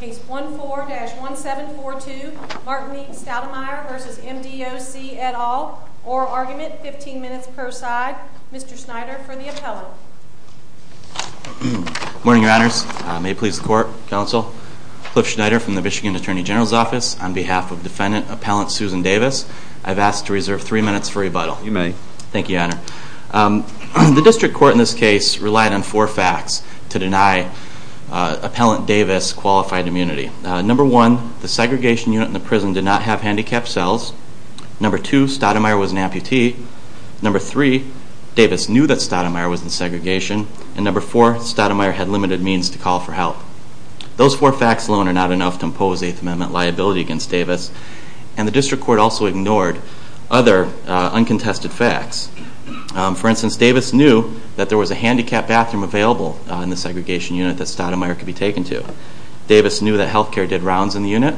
Case 14-1742 Martinique Stoudemire v. MDOC et al. Oral argument, 15 minutes per side. Mr. Schneider for the appellant. Good morning your honors. May it please the court, counsel. Cliff Schneider from the Michigan Attorney General's office. On behalf of defendant appellant Susan Davis, I've asked to reserve 3 minutes for rebuttal. You may. Thank you your honor. The district court in this case relied on 4 facts to deny appellant Davis qualified immunity. Number 1, the segregation unit in the prison did not have handicapped cells. Number 2, Stoudemire was an amputee. Number 3, Davis knew that Stoudemire was in segregation. And number 4, Stoudemire had limited means to call for help. Those 4 facts alone are not enough to impose 8th Amendment liability against Davis. And the district court also ignored other uncontested facts. For instance, Davis knew that there was a handicapped bathroom available in the segregation unit that Stoudemire could be taken to. Davis knew that health care did rounds in the unit.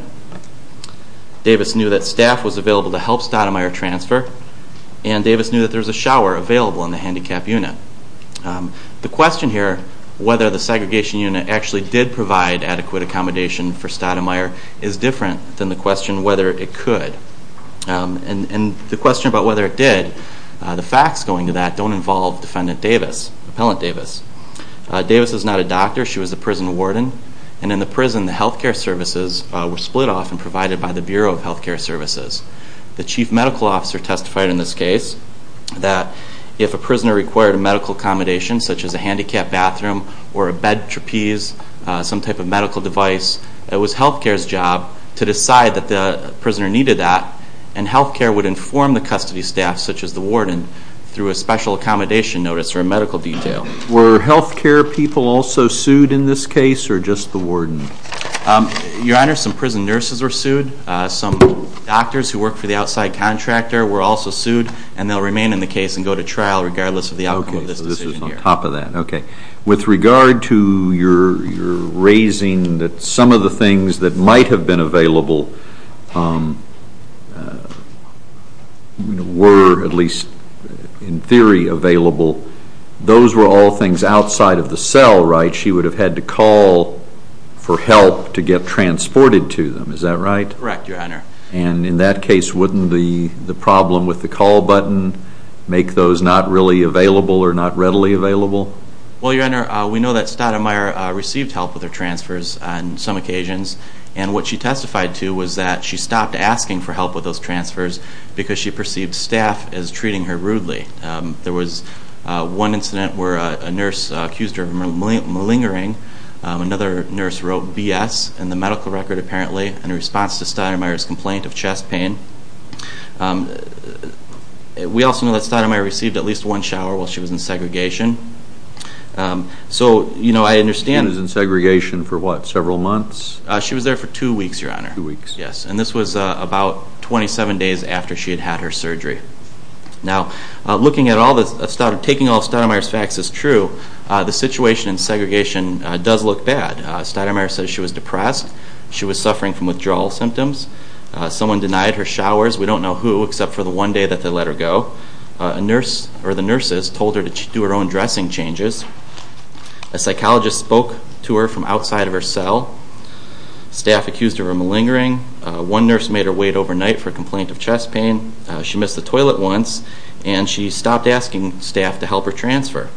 Davis knew that staff was available to help Stoudemire transfer. And Davis knew that there was a shower available in the handicapped unit. The question here, whether the segregation unit actually did provide adequate accommodation for Stoudemire, is different than the question whether it could. And the question about whether it did, the facts going to that don't involve defendant Davis, appellant Davis. Davis is not a doctor, she was a prison warden. And in the prison, the health care services were split off and provided by the Bureau of Health Care Services. The chief medical officer testified in this case that if a prisoner required a medical accommodation, such as a handicapped bathroom or a bed trapeze, some type of medical device, it was health care's job to decide that the prisoner needed that. And health care would inform the custody staff, such as the warden, through a special accommodation notice or a medical detail. Were health care people also sued in this case, or just the warden? Your Honor, some prison nurses were sued. Some doctors who worked for the outside contractor were also sued, and they'll remain in the case and go to trial regardless of the outcome of this decision here. Okay, so this was on top of that. Okay. With regard to your raising that some of the things that might have been available were, at least in theory, available, those were all things outside of the cell, right? She would have had to call for help to get transported to them. Is that right? Correct, Your Honor. And in that case, wouldn't the problem with the call button make those not really available or not readily available? Well, Your Honor, we know that Stoudemire received help with her transfers on some occasions, and what she testified to was that she stopped asking for help with those transfers because she perceived staff as treating her rudely. There was one incident where a nurse accused her of malingering. Another nurse wrote B.S. in the medical record, apparently, in response to Stoudemire's complaint of chest pain. We also know that Stoudemire received at least one shower while she was in segregation. She was in segregation for what, several months? She was there for two weeks, Your Honor. Two weeks. Yes, and this was about 27 days after she had had her surgery. Now, taking all of Stoudemire's facts as true, the situation in segregation does look bad. Stoudemire says she was depressed. She was suffering from withdrawal symptoms. Someone denied her showers. We don't know who except for the one day that they let her go. The nurses told her to do her own dressing changes. A psychologist spoke to her from outside of her cell. Staff accused her of malingering. One nurse made her wait overnight for a complaint of chest pain. She missed the toilet once, and she stopped asking staff to help her transfer.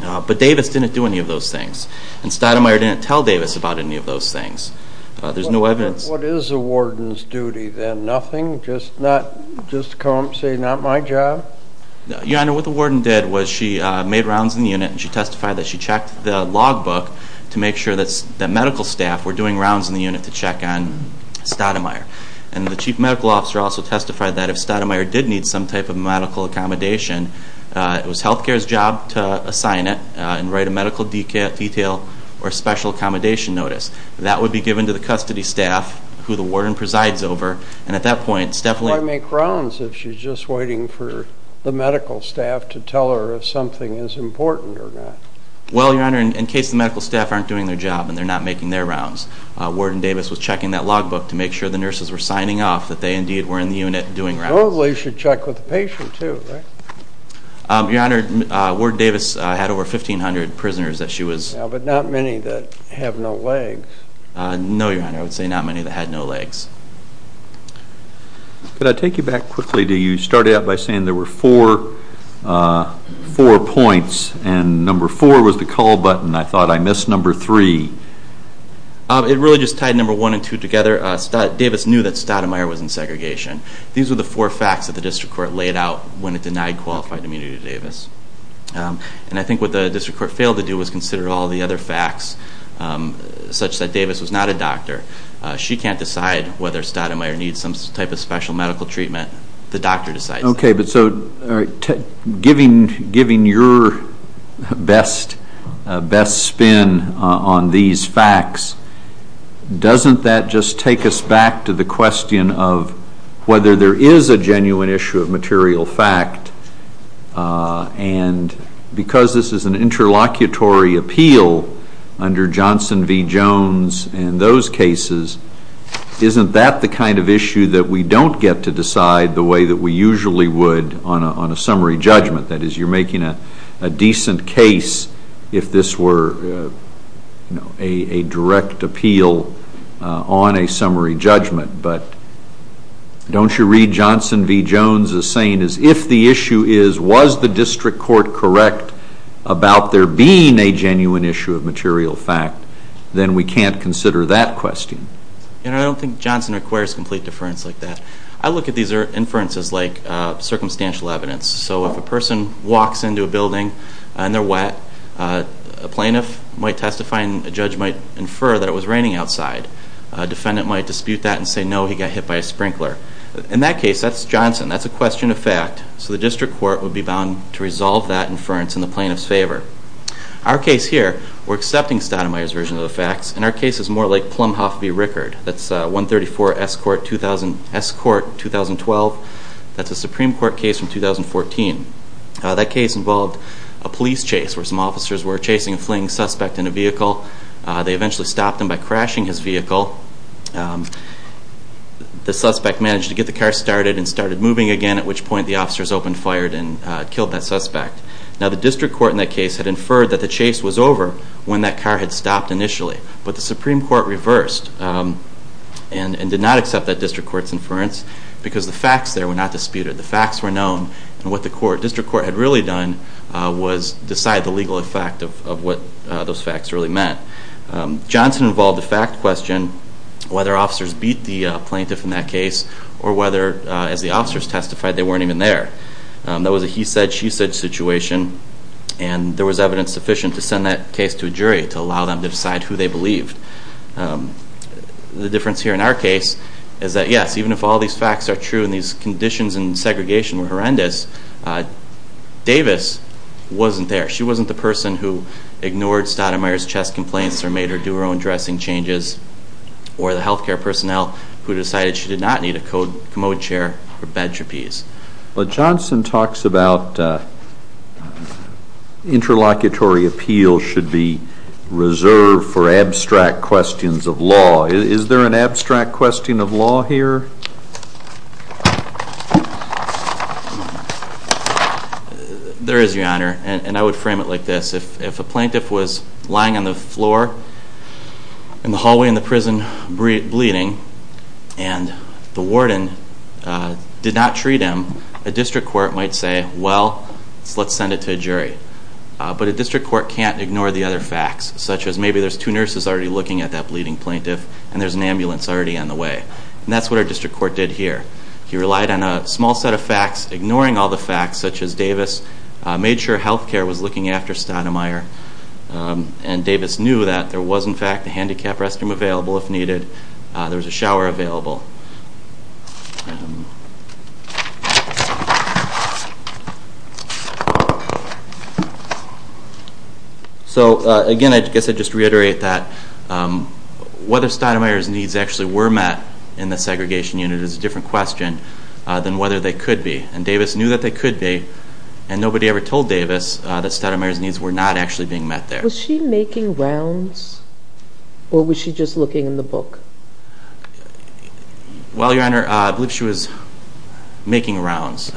But Davis didn't do any of those things. And Stoudemire didn't tell Davis about any of those things. There's no evidence. What is a warden's duty then? Nothing? Just to come up and say, not my job? Your Honor, what the warden did was she made rounds in the unit, and she testified that she checked the logbook to make sure that medical staff were doing rounds in the unit to check on Stoudemire. And the chief medical officer also testified that if Stoudemire did need some type of medical accommodation, it was health care's job to assign it and write a medical detail or special accommodation notice. That would be given to the custody staff, who the warden presides over. Why make rounds if she's just waiting for the medical staff to tell her if something is important or not? Well, Your Honor, in case the medical staff aren't doing their job and they're not making their rounds, Warden Davis was checking that logbook to make sure the nurses were signing off, that they indeed were in the unit doing rounds. Well, they should check with the patient too, right? Your Honor, Warden Davis had over 1,500 prisoners that she was... But not many that have no legs. No, Your Honor, I would say not many that had no legs. Could I take you back quickly? You started out by saying there were four points, and number four was the call button. I thought I missed number three. It really just tied number one and two together. Davis knew that Stoudemire was in segregation. These were the four facts that the district court laid out when it denied qualified immunity to Davis. And I think what the district court failed to do was consider all the other facts, such that Davis was not a doctor. She can't decide whether Stoudemire needs some type of special medical treatment. The doctor decides that. Okay, but so giving your best spin on these facts, doesn't that just take us back to the question of whether there is a genuine issue of material fact? And because this is an interlocutory appeal under Johnson v. Jones and those cases, isn't that the kind of issue that we don't get to decide the way that we usually would on a summary judgment? That is, you're making a decent case if this were a direct appeal on a summary judgment. But don't you read Johnson v. Jones as saying, if the issue is, was the district court correct about there being a genuine issue of material fact, then we can't consider that question. I don't think Johnson requires complete deference like that. I look at these inferences like circumstantial evidence. So if a person walks into a building and they're wet, a plaintiff might testify and a judge might infer that it was raining outside. A defendant might dispute that and say, no, he got hit by a sprinkler. In that case, that's Johnson, that's a question of fact. So the district court would be bound to resolve that inference in the plaintiff's favor. Our case here, we're accepting Stoudemire's version of the facts, and our case is more like Plumhoff v. Rickard. That's 134 S. Court, 2012. That's a Supreme Court case from 2014. That case involved a police chase where some officers were chasing a fleeing suspect in a vehicle. They eventually stopped him by crashing his vehicle. The suspect managed to get the car started and started moving again, at which point the officers opened fire and killed that suspect. Now the district court in that case had inferred that the chase was over when that car had stopped initially. But the Supreme Court reversed and did not accept that district court's inference because the facts there were not disputed. The facts were known, and what the district court had really done was decide the legal effect of what those facts really meant. Johnson involved the fact question whether officers beat the plaintiff in that case or whether, as the officers testified, they weren't even there. That was a he-said, she-said situation, and there was evidence sufficient to send that case to a jury to allow them to decide who they believed. The difference here in our case is that, yes, even if all these facts are true and these conditions and segregation were horrendous, Davis wasn't there. She wasn't the person who ignored Stoudemire's chest complaints or made her do her own dressing changes, or the health care personnel who decided she did not need a commode chair or bed trapeze. Johnson talks about interlocutory appeals should be reserved for abstract questions of law. Is there an abstract question of law here? There is, Your Honor, and I would frame it like this. If a plaintiff was lying on the floor in the hallway in the prison bleeding and the warden did not treat him, a district court might say, well, let's send it to a jury. But a district court can't ignore the other facts, such as maybe there's two nurses already looking at that bleeding plaintiff and there's an ambulance already on the way. And that's what our district court did here. He relied on a small set of facts, ignoring all the facts, such as Davis made sure health care was looking after Stoudemire, and Davis knew that there was, in fact, a handicap restroom available if needed. There was a shower available. So, again, I guess I'd just reiterate that whether Stoudemire's needs actually were met in the segregation unit is a different question than whether they could be. And Davis knew that they could be, and nobody ever told Davis that Stoudemire's needs were not actually being met there. Was she making rounds, or was she just looking in the book? Well, Your Honor, I believe she was making rounds.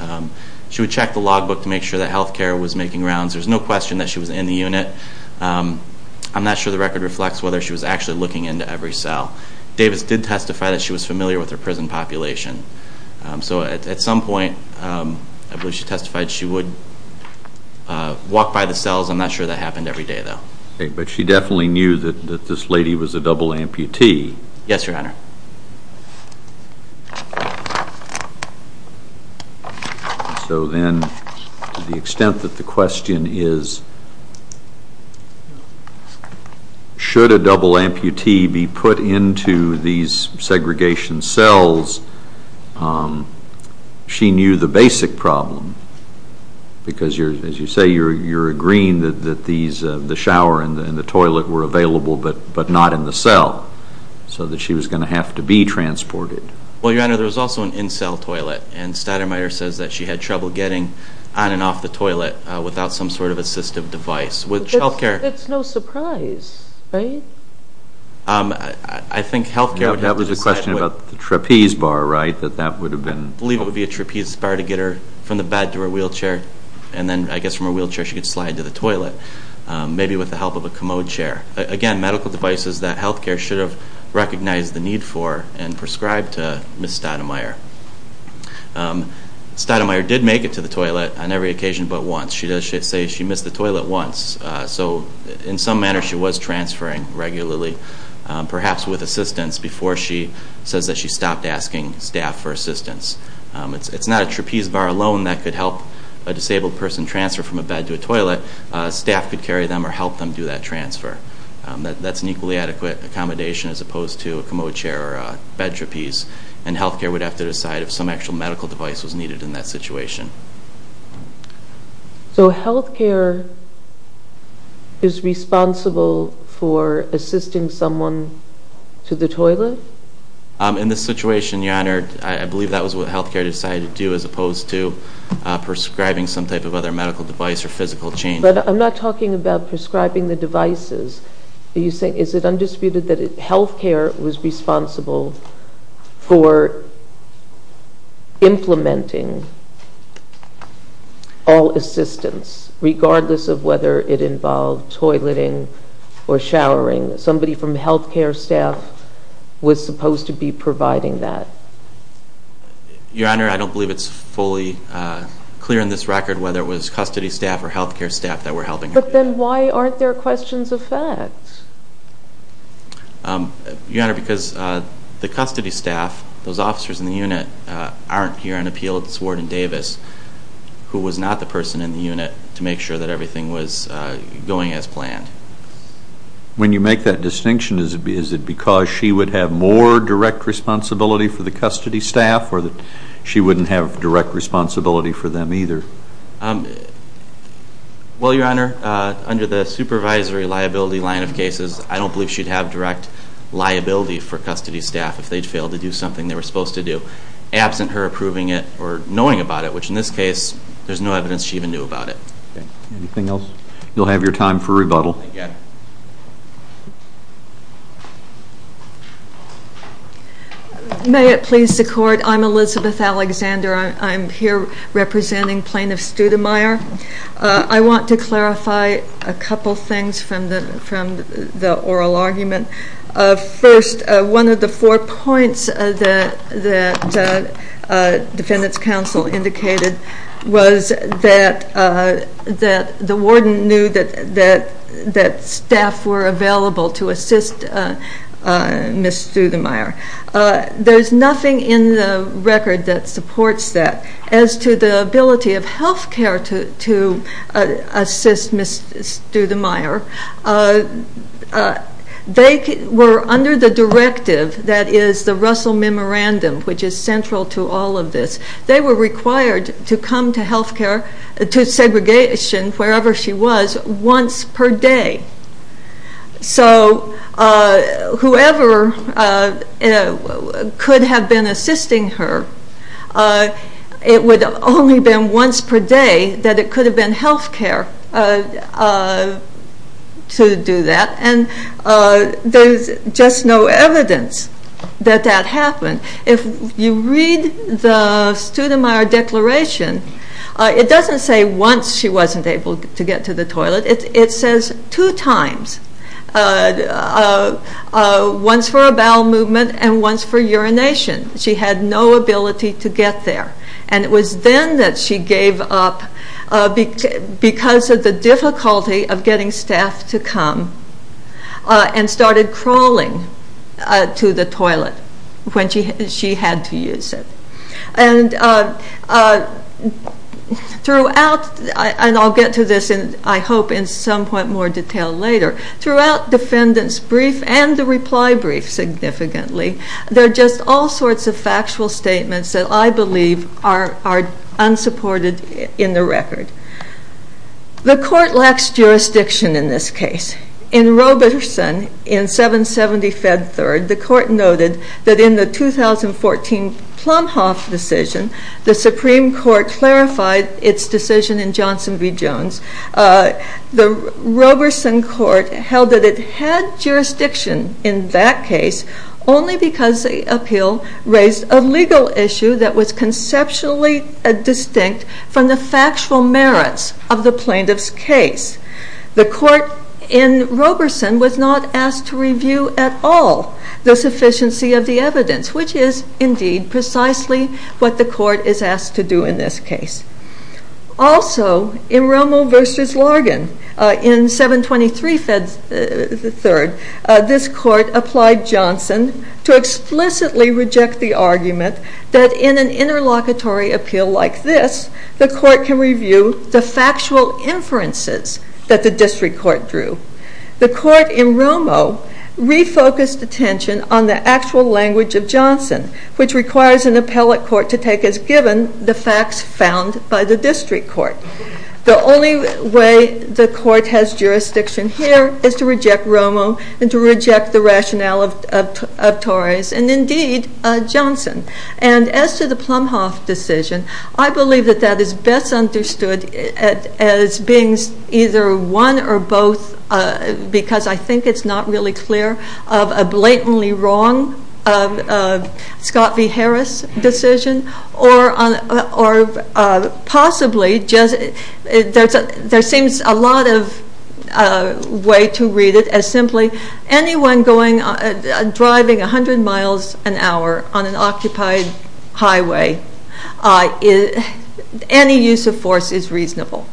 She would check the logbook to make sure that health care was making rounds. There's no question that she was in the unit. I'm not sure the record reflects whether she was actually looking into every cell. Davis did testify that she was familiar with her prison population. So at some point, I believe she testified, she would walk by the cells. I'm not sure that happened every day, though. Okay, but she definitely knew that this lady was a double amputee. Yes, Your Honor. So then, to the extent that the question is, should a double amputee be put into these segregation cells, she knew the basic problem, because, as you say, you're agreeing that the shower and the toilet were available, but not in the cell, so that she was going to have to be transported. Well, Your Honor, there was also an in-cell toilet, and Stoudemire says that she had trouble getting on and off the toilet without some sort of assistive device. That's no surprise, right? I think health care would have to decide. That was a question about the trapeze bar, right? I believe it would be a trapeze bar to get her from the bed to her wheelchair, and then, I guess, from her wheelchair she could slide to the toilet, maybe with the help of a commode chair. Again, medical devices that health care should have recognized the need for and prescribed to Ms. Stoudemire. Stoudemire did make it to the toilet on every occasion but once. She does say she missed the toilet once, so in some manner she was transferring regularly, perhaps with assistance, before she says that she stopped asking staff for assistance. It's not a trapeze bar alone that could help a disabled person transfer from a bed to a toilet. Staff could carry them or help them do that transfer. That's an equally adequate accommodation as opposed to a commode chair or a bed trapeze, and health care would have to decide if some actual medical device was needed in that situation. So health care is responsible for assisting someone to the toilet? In this situation, Your Honor, I believe that was what health care decided to do as opposed to prescribing some type of other medical device or physical change. But I'm not talking about prescribing the devices. Are you saying, is it undisputed that health care was responsible for implementing all assistance, regardless of whether it involved toileting or showering? Somebody from health care staff was supposed to be providing that. Your Honor, I don't believe it's fully clear in this record whether it was custody staff or health care staff that were helping her. But then why aren't there questions of fact? Your Honor, because the custody staff, those officers in the unit, aren't here on appeal. It's Warden Davis who was not the person in the unit to make sure that everything was going as planned. When you make that distinction, is it because she would have more direct responsibility for the custody staff or that she wouldn't have direct responsibility for them either? Well, Your Honor, under the supervisory liability line of cases, I don't believe she'd have direct liability for custody staff if they'd failed to do something they were supposed to do. Absent her approving it or knowing about it, which in this case, there's no evidence she even knew about it. Anything else? You'll have your time for rebuttal. May it please the Court, I'm Elizabeth Alexander. I'm here representing Plaintiff Studemeier. I want to clarify a couple things from the oral argument. First, one of the four points that defendants' counsel indicated was that the warden knew that staff were available to assist Ms. Studemeier. There's nothing in the record that supports that. As to the ability of health care to assist Ms. Studemeier, they were under the directive that is the Russell Memorandum, which is central to all of this. They were required to come to health care, to segregation, wherever she was, once per day. So whoever could have been assisting her, it would only have been once per day that it could have been health care to do that. And there's just no evidence that that happened. If you read the Studemeier Declaration, it doesn't say once she wasn't able to get to the toilet. It says two times, once for a bowel movement and once for urination. She had no ability to get there. And it was then that she gave up because of the difficulty of getting staff to come and started crawling to the toilet when she had to use it. And I'll get to this, I hope, in somewhat more detail later. Throughout the defendant's brief and the reply brief significantly, there are just all sorts of factual statements that I believe are unsupported in the record. The court lacks jurisdiction in this case. In Roberson in 770 Fed Third, the court noted that in the 2014 Plumhoff decision, the Supreme Court clarified its decision in Johnson v. Jones. The Roberson court held that it had jurisdiction in that case only because the appeal raised a legal issue that was conceptually distinct from the factual merits of the plaintiff's case. The court in Roberson was not asked to review at all the sufficiency of the evidence, which is indeed precisely what the court is asked to do in this case. Also in Romo v. Largan in 723 Fed Third, this court applied Johnson to explicitly reject the argument that in an interlocutory appeal like this, the court can review the factual inferences that the district court drew. The court in Romo refocused attention on the actual language of Johnson, which requires an appellate court to take as given the facts found by the district court. The only way the court has jurisdiction here is to reject Romo and to reject the rationale of Torres and indeed Johnson. And as to the Plumhoff decision, I believe that that is best understood as being either one or both, because I think it's not really clear, of a blatantly wrong Scott v. Harris decision or possibly there seems a lot of way to read it as simply anyone driving 100 miles an hour on an occupied highway, any use of force is reasonable.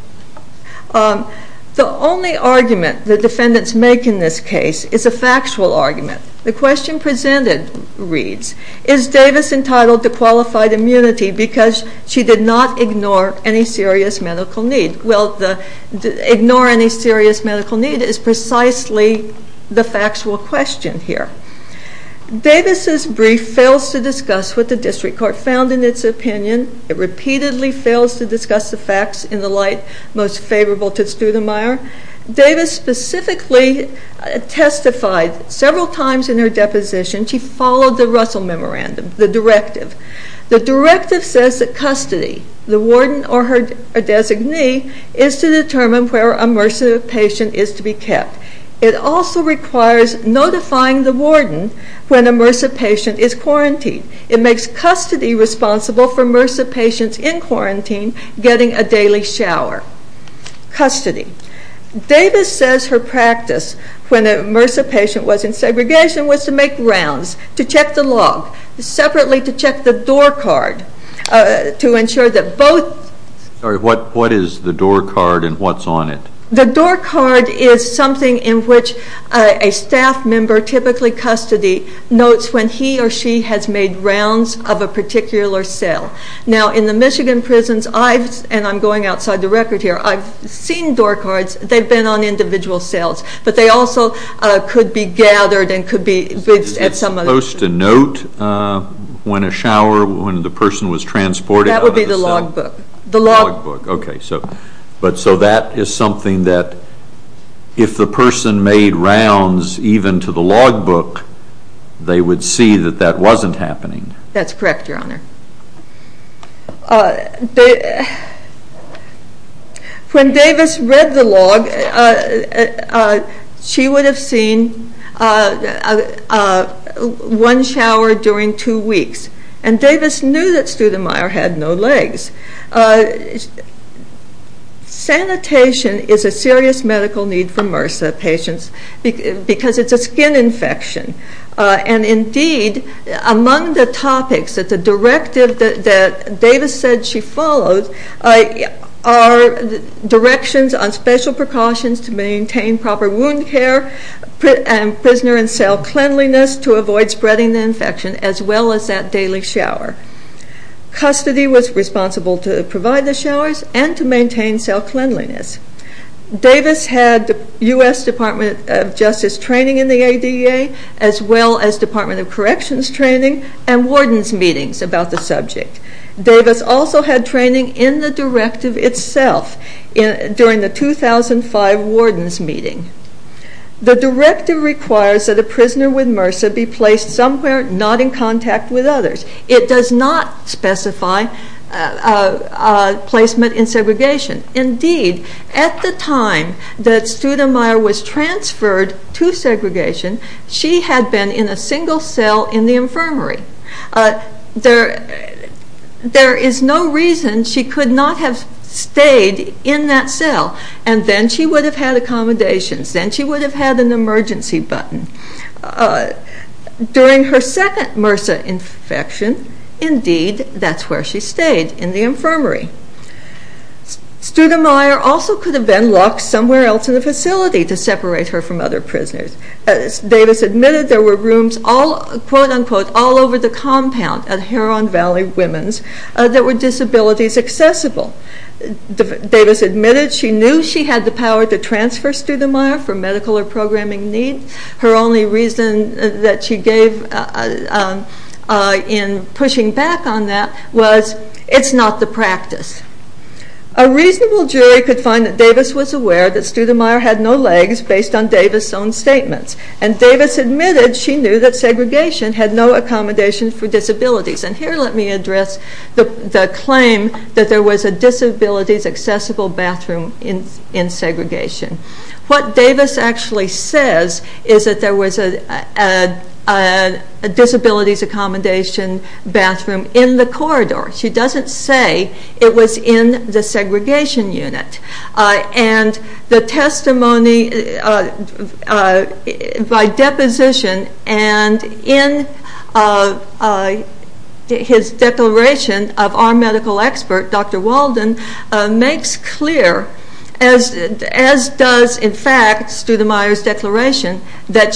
The only argument the defendants make in this case is a factual argument. The question presented reads, is Davis entitled to qualified immunity because she did not ignore any serious medical need? Ignore any serious medical need is precisely the factual question here. Davis' brief fails to discuss what the district court found in its opinion. It repeatedly fails to discuss the facts in the light most favorable to Studemeier. Davis specifically testified several times in her deposition, she followed the Russell Memorandum, the directive. The directive says that custody, the warden or her designee, is to determine where a MRSA patient is to be kept. It also requires notifying the warden when a MRSA patient is quarantined. It makes custody responsible for MRSA patients in quarantine getting a daily shower. Custody. Davis says her practice when a MRSA patient was in segregation was to make rounds, to check the log, separately to check the door card, to ensure that both. What is the door card and what's on it? The door card is something in which a staff member, typically custody, notes when he or she has made rounds of a particular cell. Now in the Michigan prisons, and I'm going outside the record here, I've seen door cards, they've been on individual cells, but they also could be gathered and could be at some other. Is it supposed to note when a shower, when the person was transported? That would be the log book. The log book. Okay. So that is something that if the person made rounds even to the log book, they would see that that wasn't happening. That's correct, Your Honor. When Davis read the log, she would have seen one shower during two weeks. And Davis knew that Studemeier had no legs. Sanitation is a serious medical need for MRSA patients because it's a skin infection. And indeed, among the topics that the directive that Davis said she followed are directions on special precautions to maintain proper wound care, prisoner and cell cleanliness to avoid spreading the infection, as well as that daily shower. Custody was responsible to provide the showers and to maintain cell cleanliness. Davis had U.S. Department of Justice training in the ADA, as well as Department of Corrections training and wardens' meetings about the subject. Davis also had training in the directive itself during the 2005 wardens' meeting. The directive requires that a prisoner with MRSA be placed somewhere not in contact with others. It does not specify placement in segregation. Indeed, at the time that Studemeier was transferred to segregation, she had been in a single cell in the infirmary. There is no reason she could not have stayed in that cell. And then she would have had accommodations. Then she would have had an emergency button. During her second MRSA infection, indeed, that's where she stayed, in the infirmary. Studemeier also could have been locked somewhere else in the facility to separate her from other prisoners. Davis admitted there were rooms, quote-unquote, all over the compound at Heron Valley Women's that were disabilities accessible. Davis admitted she knew she had the power to transfer Studemeier for medical or programming need. Her only reason that she gave in pushing back on that was it's not the practice. A reasonable jury could find that Davis was aware that Studemeier had no legs based on Davis' own statements. And Davis admitted she knew that segregation had no accommodation for disabilities. And here let me address the claim that there was a disabilities accessible bathroom in segregation. What Davis actually says is that there was a disabilities accommodation bathroom in the corridor. She doesn't say it was in the segregation unit. And the testimony by deposition and in his declaration of our medical expert, Dr. Walden, makes clear, as does in fact Studemeier's declaration, that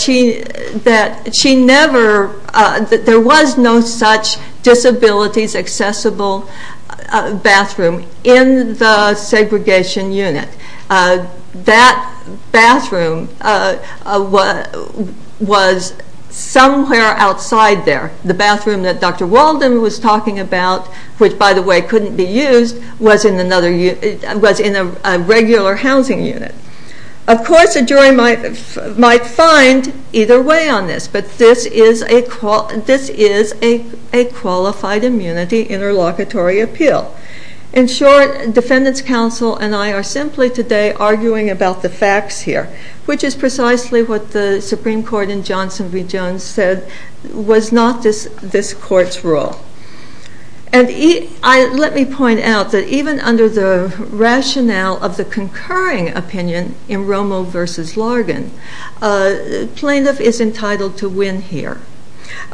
there was no such disabilities accessible bathroom in the segregation unit. That bathroom was somewhere outside there. The bathroom that Dr. Walden was talking about, which by the way couldn't be used, was in a regular housing unit. Of course a jury might find either way on this. But this is a qualified immunity interlocutory appeal. In short, defendants counsel and I are simply today arguing about the facts here, which is precisely what the Supreme Court in Johnson v. Jones said was not this court's rule. And let me point out that even under the rationale of the concurring opinion in Romo v. Largan, plaintiff is entitled to win here.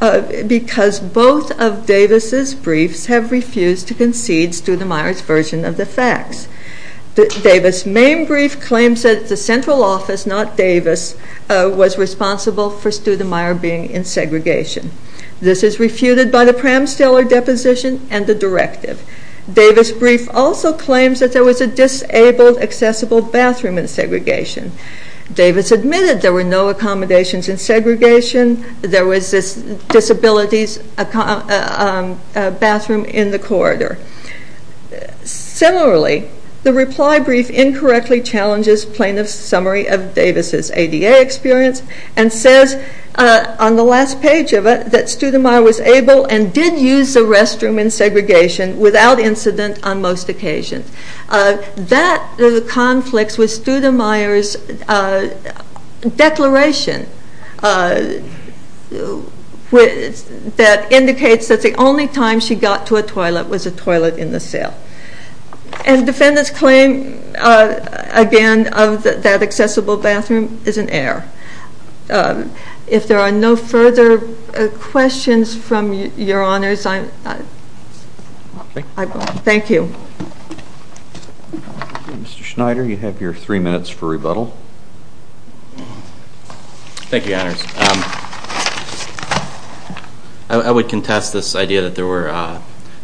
Because both of Davis' briefs have refused to concede Studemeier's version of the facts. Davis' main brief claims that the central office, not Davis, was responsible for Studemeier being in segregation. This is refuted by the Pramsteller deposition and the directive. Davis' brief also claims that there was a disabled accessible bathroom in segregation. Davis admitted there were no accommodations in segregation. There was a disabilities bathroom in the corridor. Similarly, the reply brief incorrectly challenges plaintiff's summary of Davis' ADA experience and says on the last page of it that Studemeier was able and did use the restroom in segregation without incident on most occasions. That conflicts with Studemeier's declaration that indicates that the only time she got to a toilet was a toilet in the cell. And defendant's claim, again, of that accessible bathroom is an error. If there are no further questions from your honors, I won't. Thank you. Mr. Schneider, you have your three minutes for rebuttal. Thank you, your honors. I would contest this idea that there were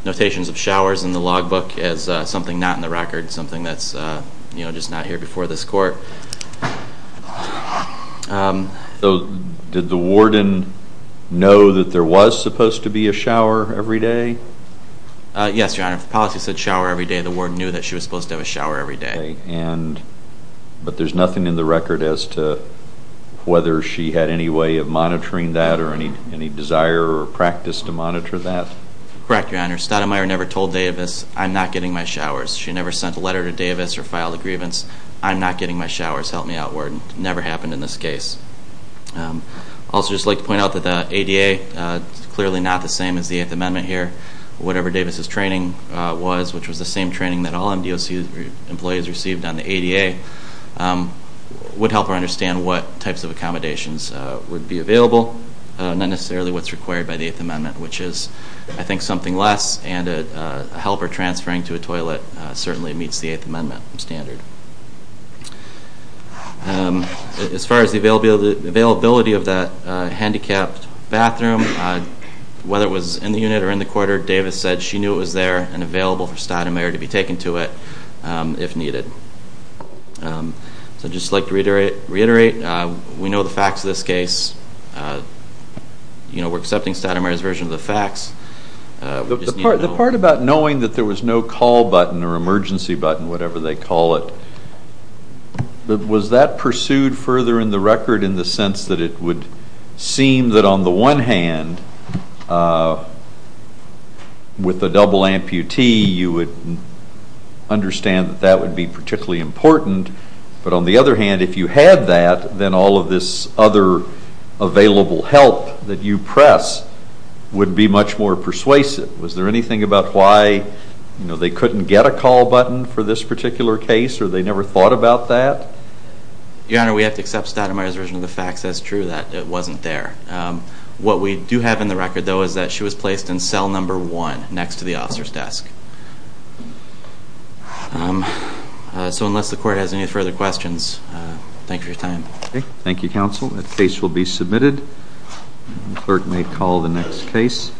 notations of showers in the logbook as something not in the record, something that's just not here before this court. Did the warden know that there was supposed to be a shower every day? Yes, your honors. The policy said shower every day. The warden knew that she was supposed to have a shower every day. But there's nothing in the record as to whether she had any way of monitoring that or any desire or practice to monitor that? Correct, your honors. Studemeier never told Davis, I'm not getting my showers. She never sent a letter to Davis or filed a grievance. I'm not getting my showers. Help me out, warden. It never happened in this case. I'd also just like to point out that the ADA is clearly not the same as the Eighth Amendment here. Whatever Davis' training was, which was the same training that all MDOC employees received on the ADA, would help her understand what types of accommodations would be available, not necessarily what's required by the Eighth Amendment, which is, I think, something less, and a helper transferring to a toilet certainly meets the Eighth Amendment standard. As far as the availability of that handicapped bathroom, whether it was in the unit or in the corridor, Davis said she knew it was there and available for Studemeier to be taken to it if needed. I'd just like to reiterate, we know the facts of this case. We're accepting Studemeier's version of the facts. The part about knowing that there was no call button or emergency button, whatever they call it, was that pursued further in the record in the sense that it would seem that on the one hand, with a double amputee, you would understand that that would be particularly important, but on the other hand, if you had that, then all of this other available help that you press would be much more persuasive. Was there anything about why they couldn't get a call button for this particular case or they never thought about that? Your Honor, we have to accept Studemeier's version of the facts as true, that it wasn't there. What we do have in the record, though, is that she was placed in cell number one next to the officer's desk. So unless the Court has any further questions, thank you for your time. Thank you, Counsel. The case will be submitted. The Clerk may call the next case.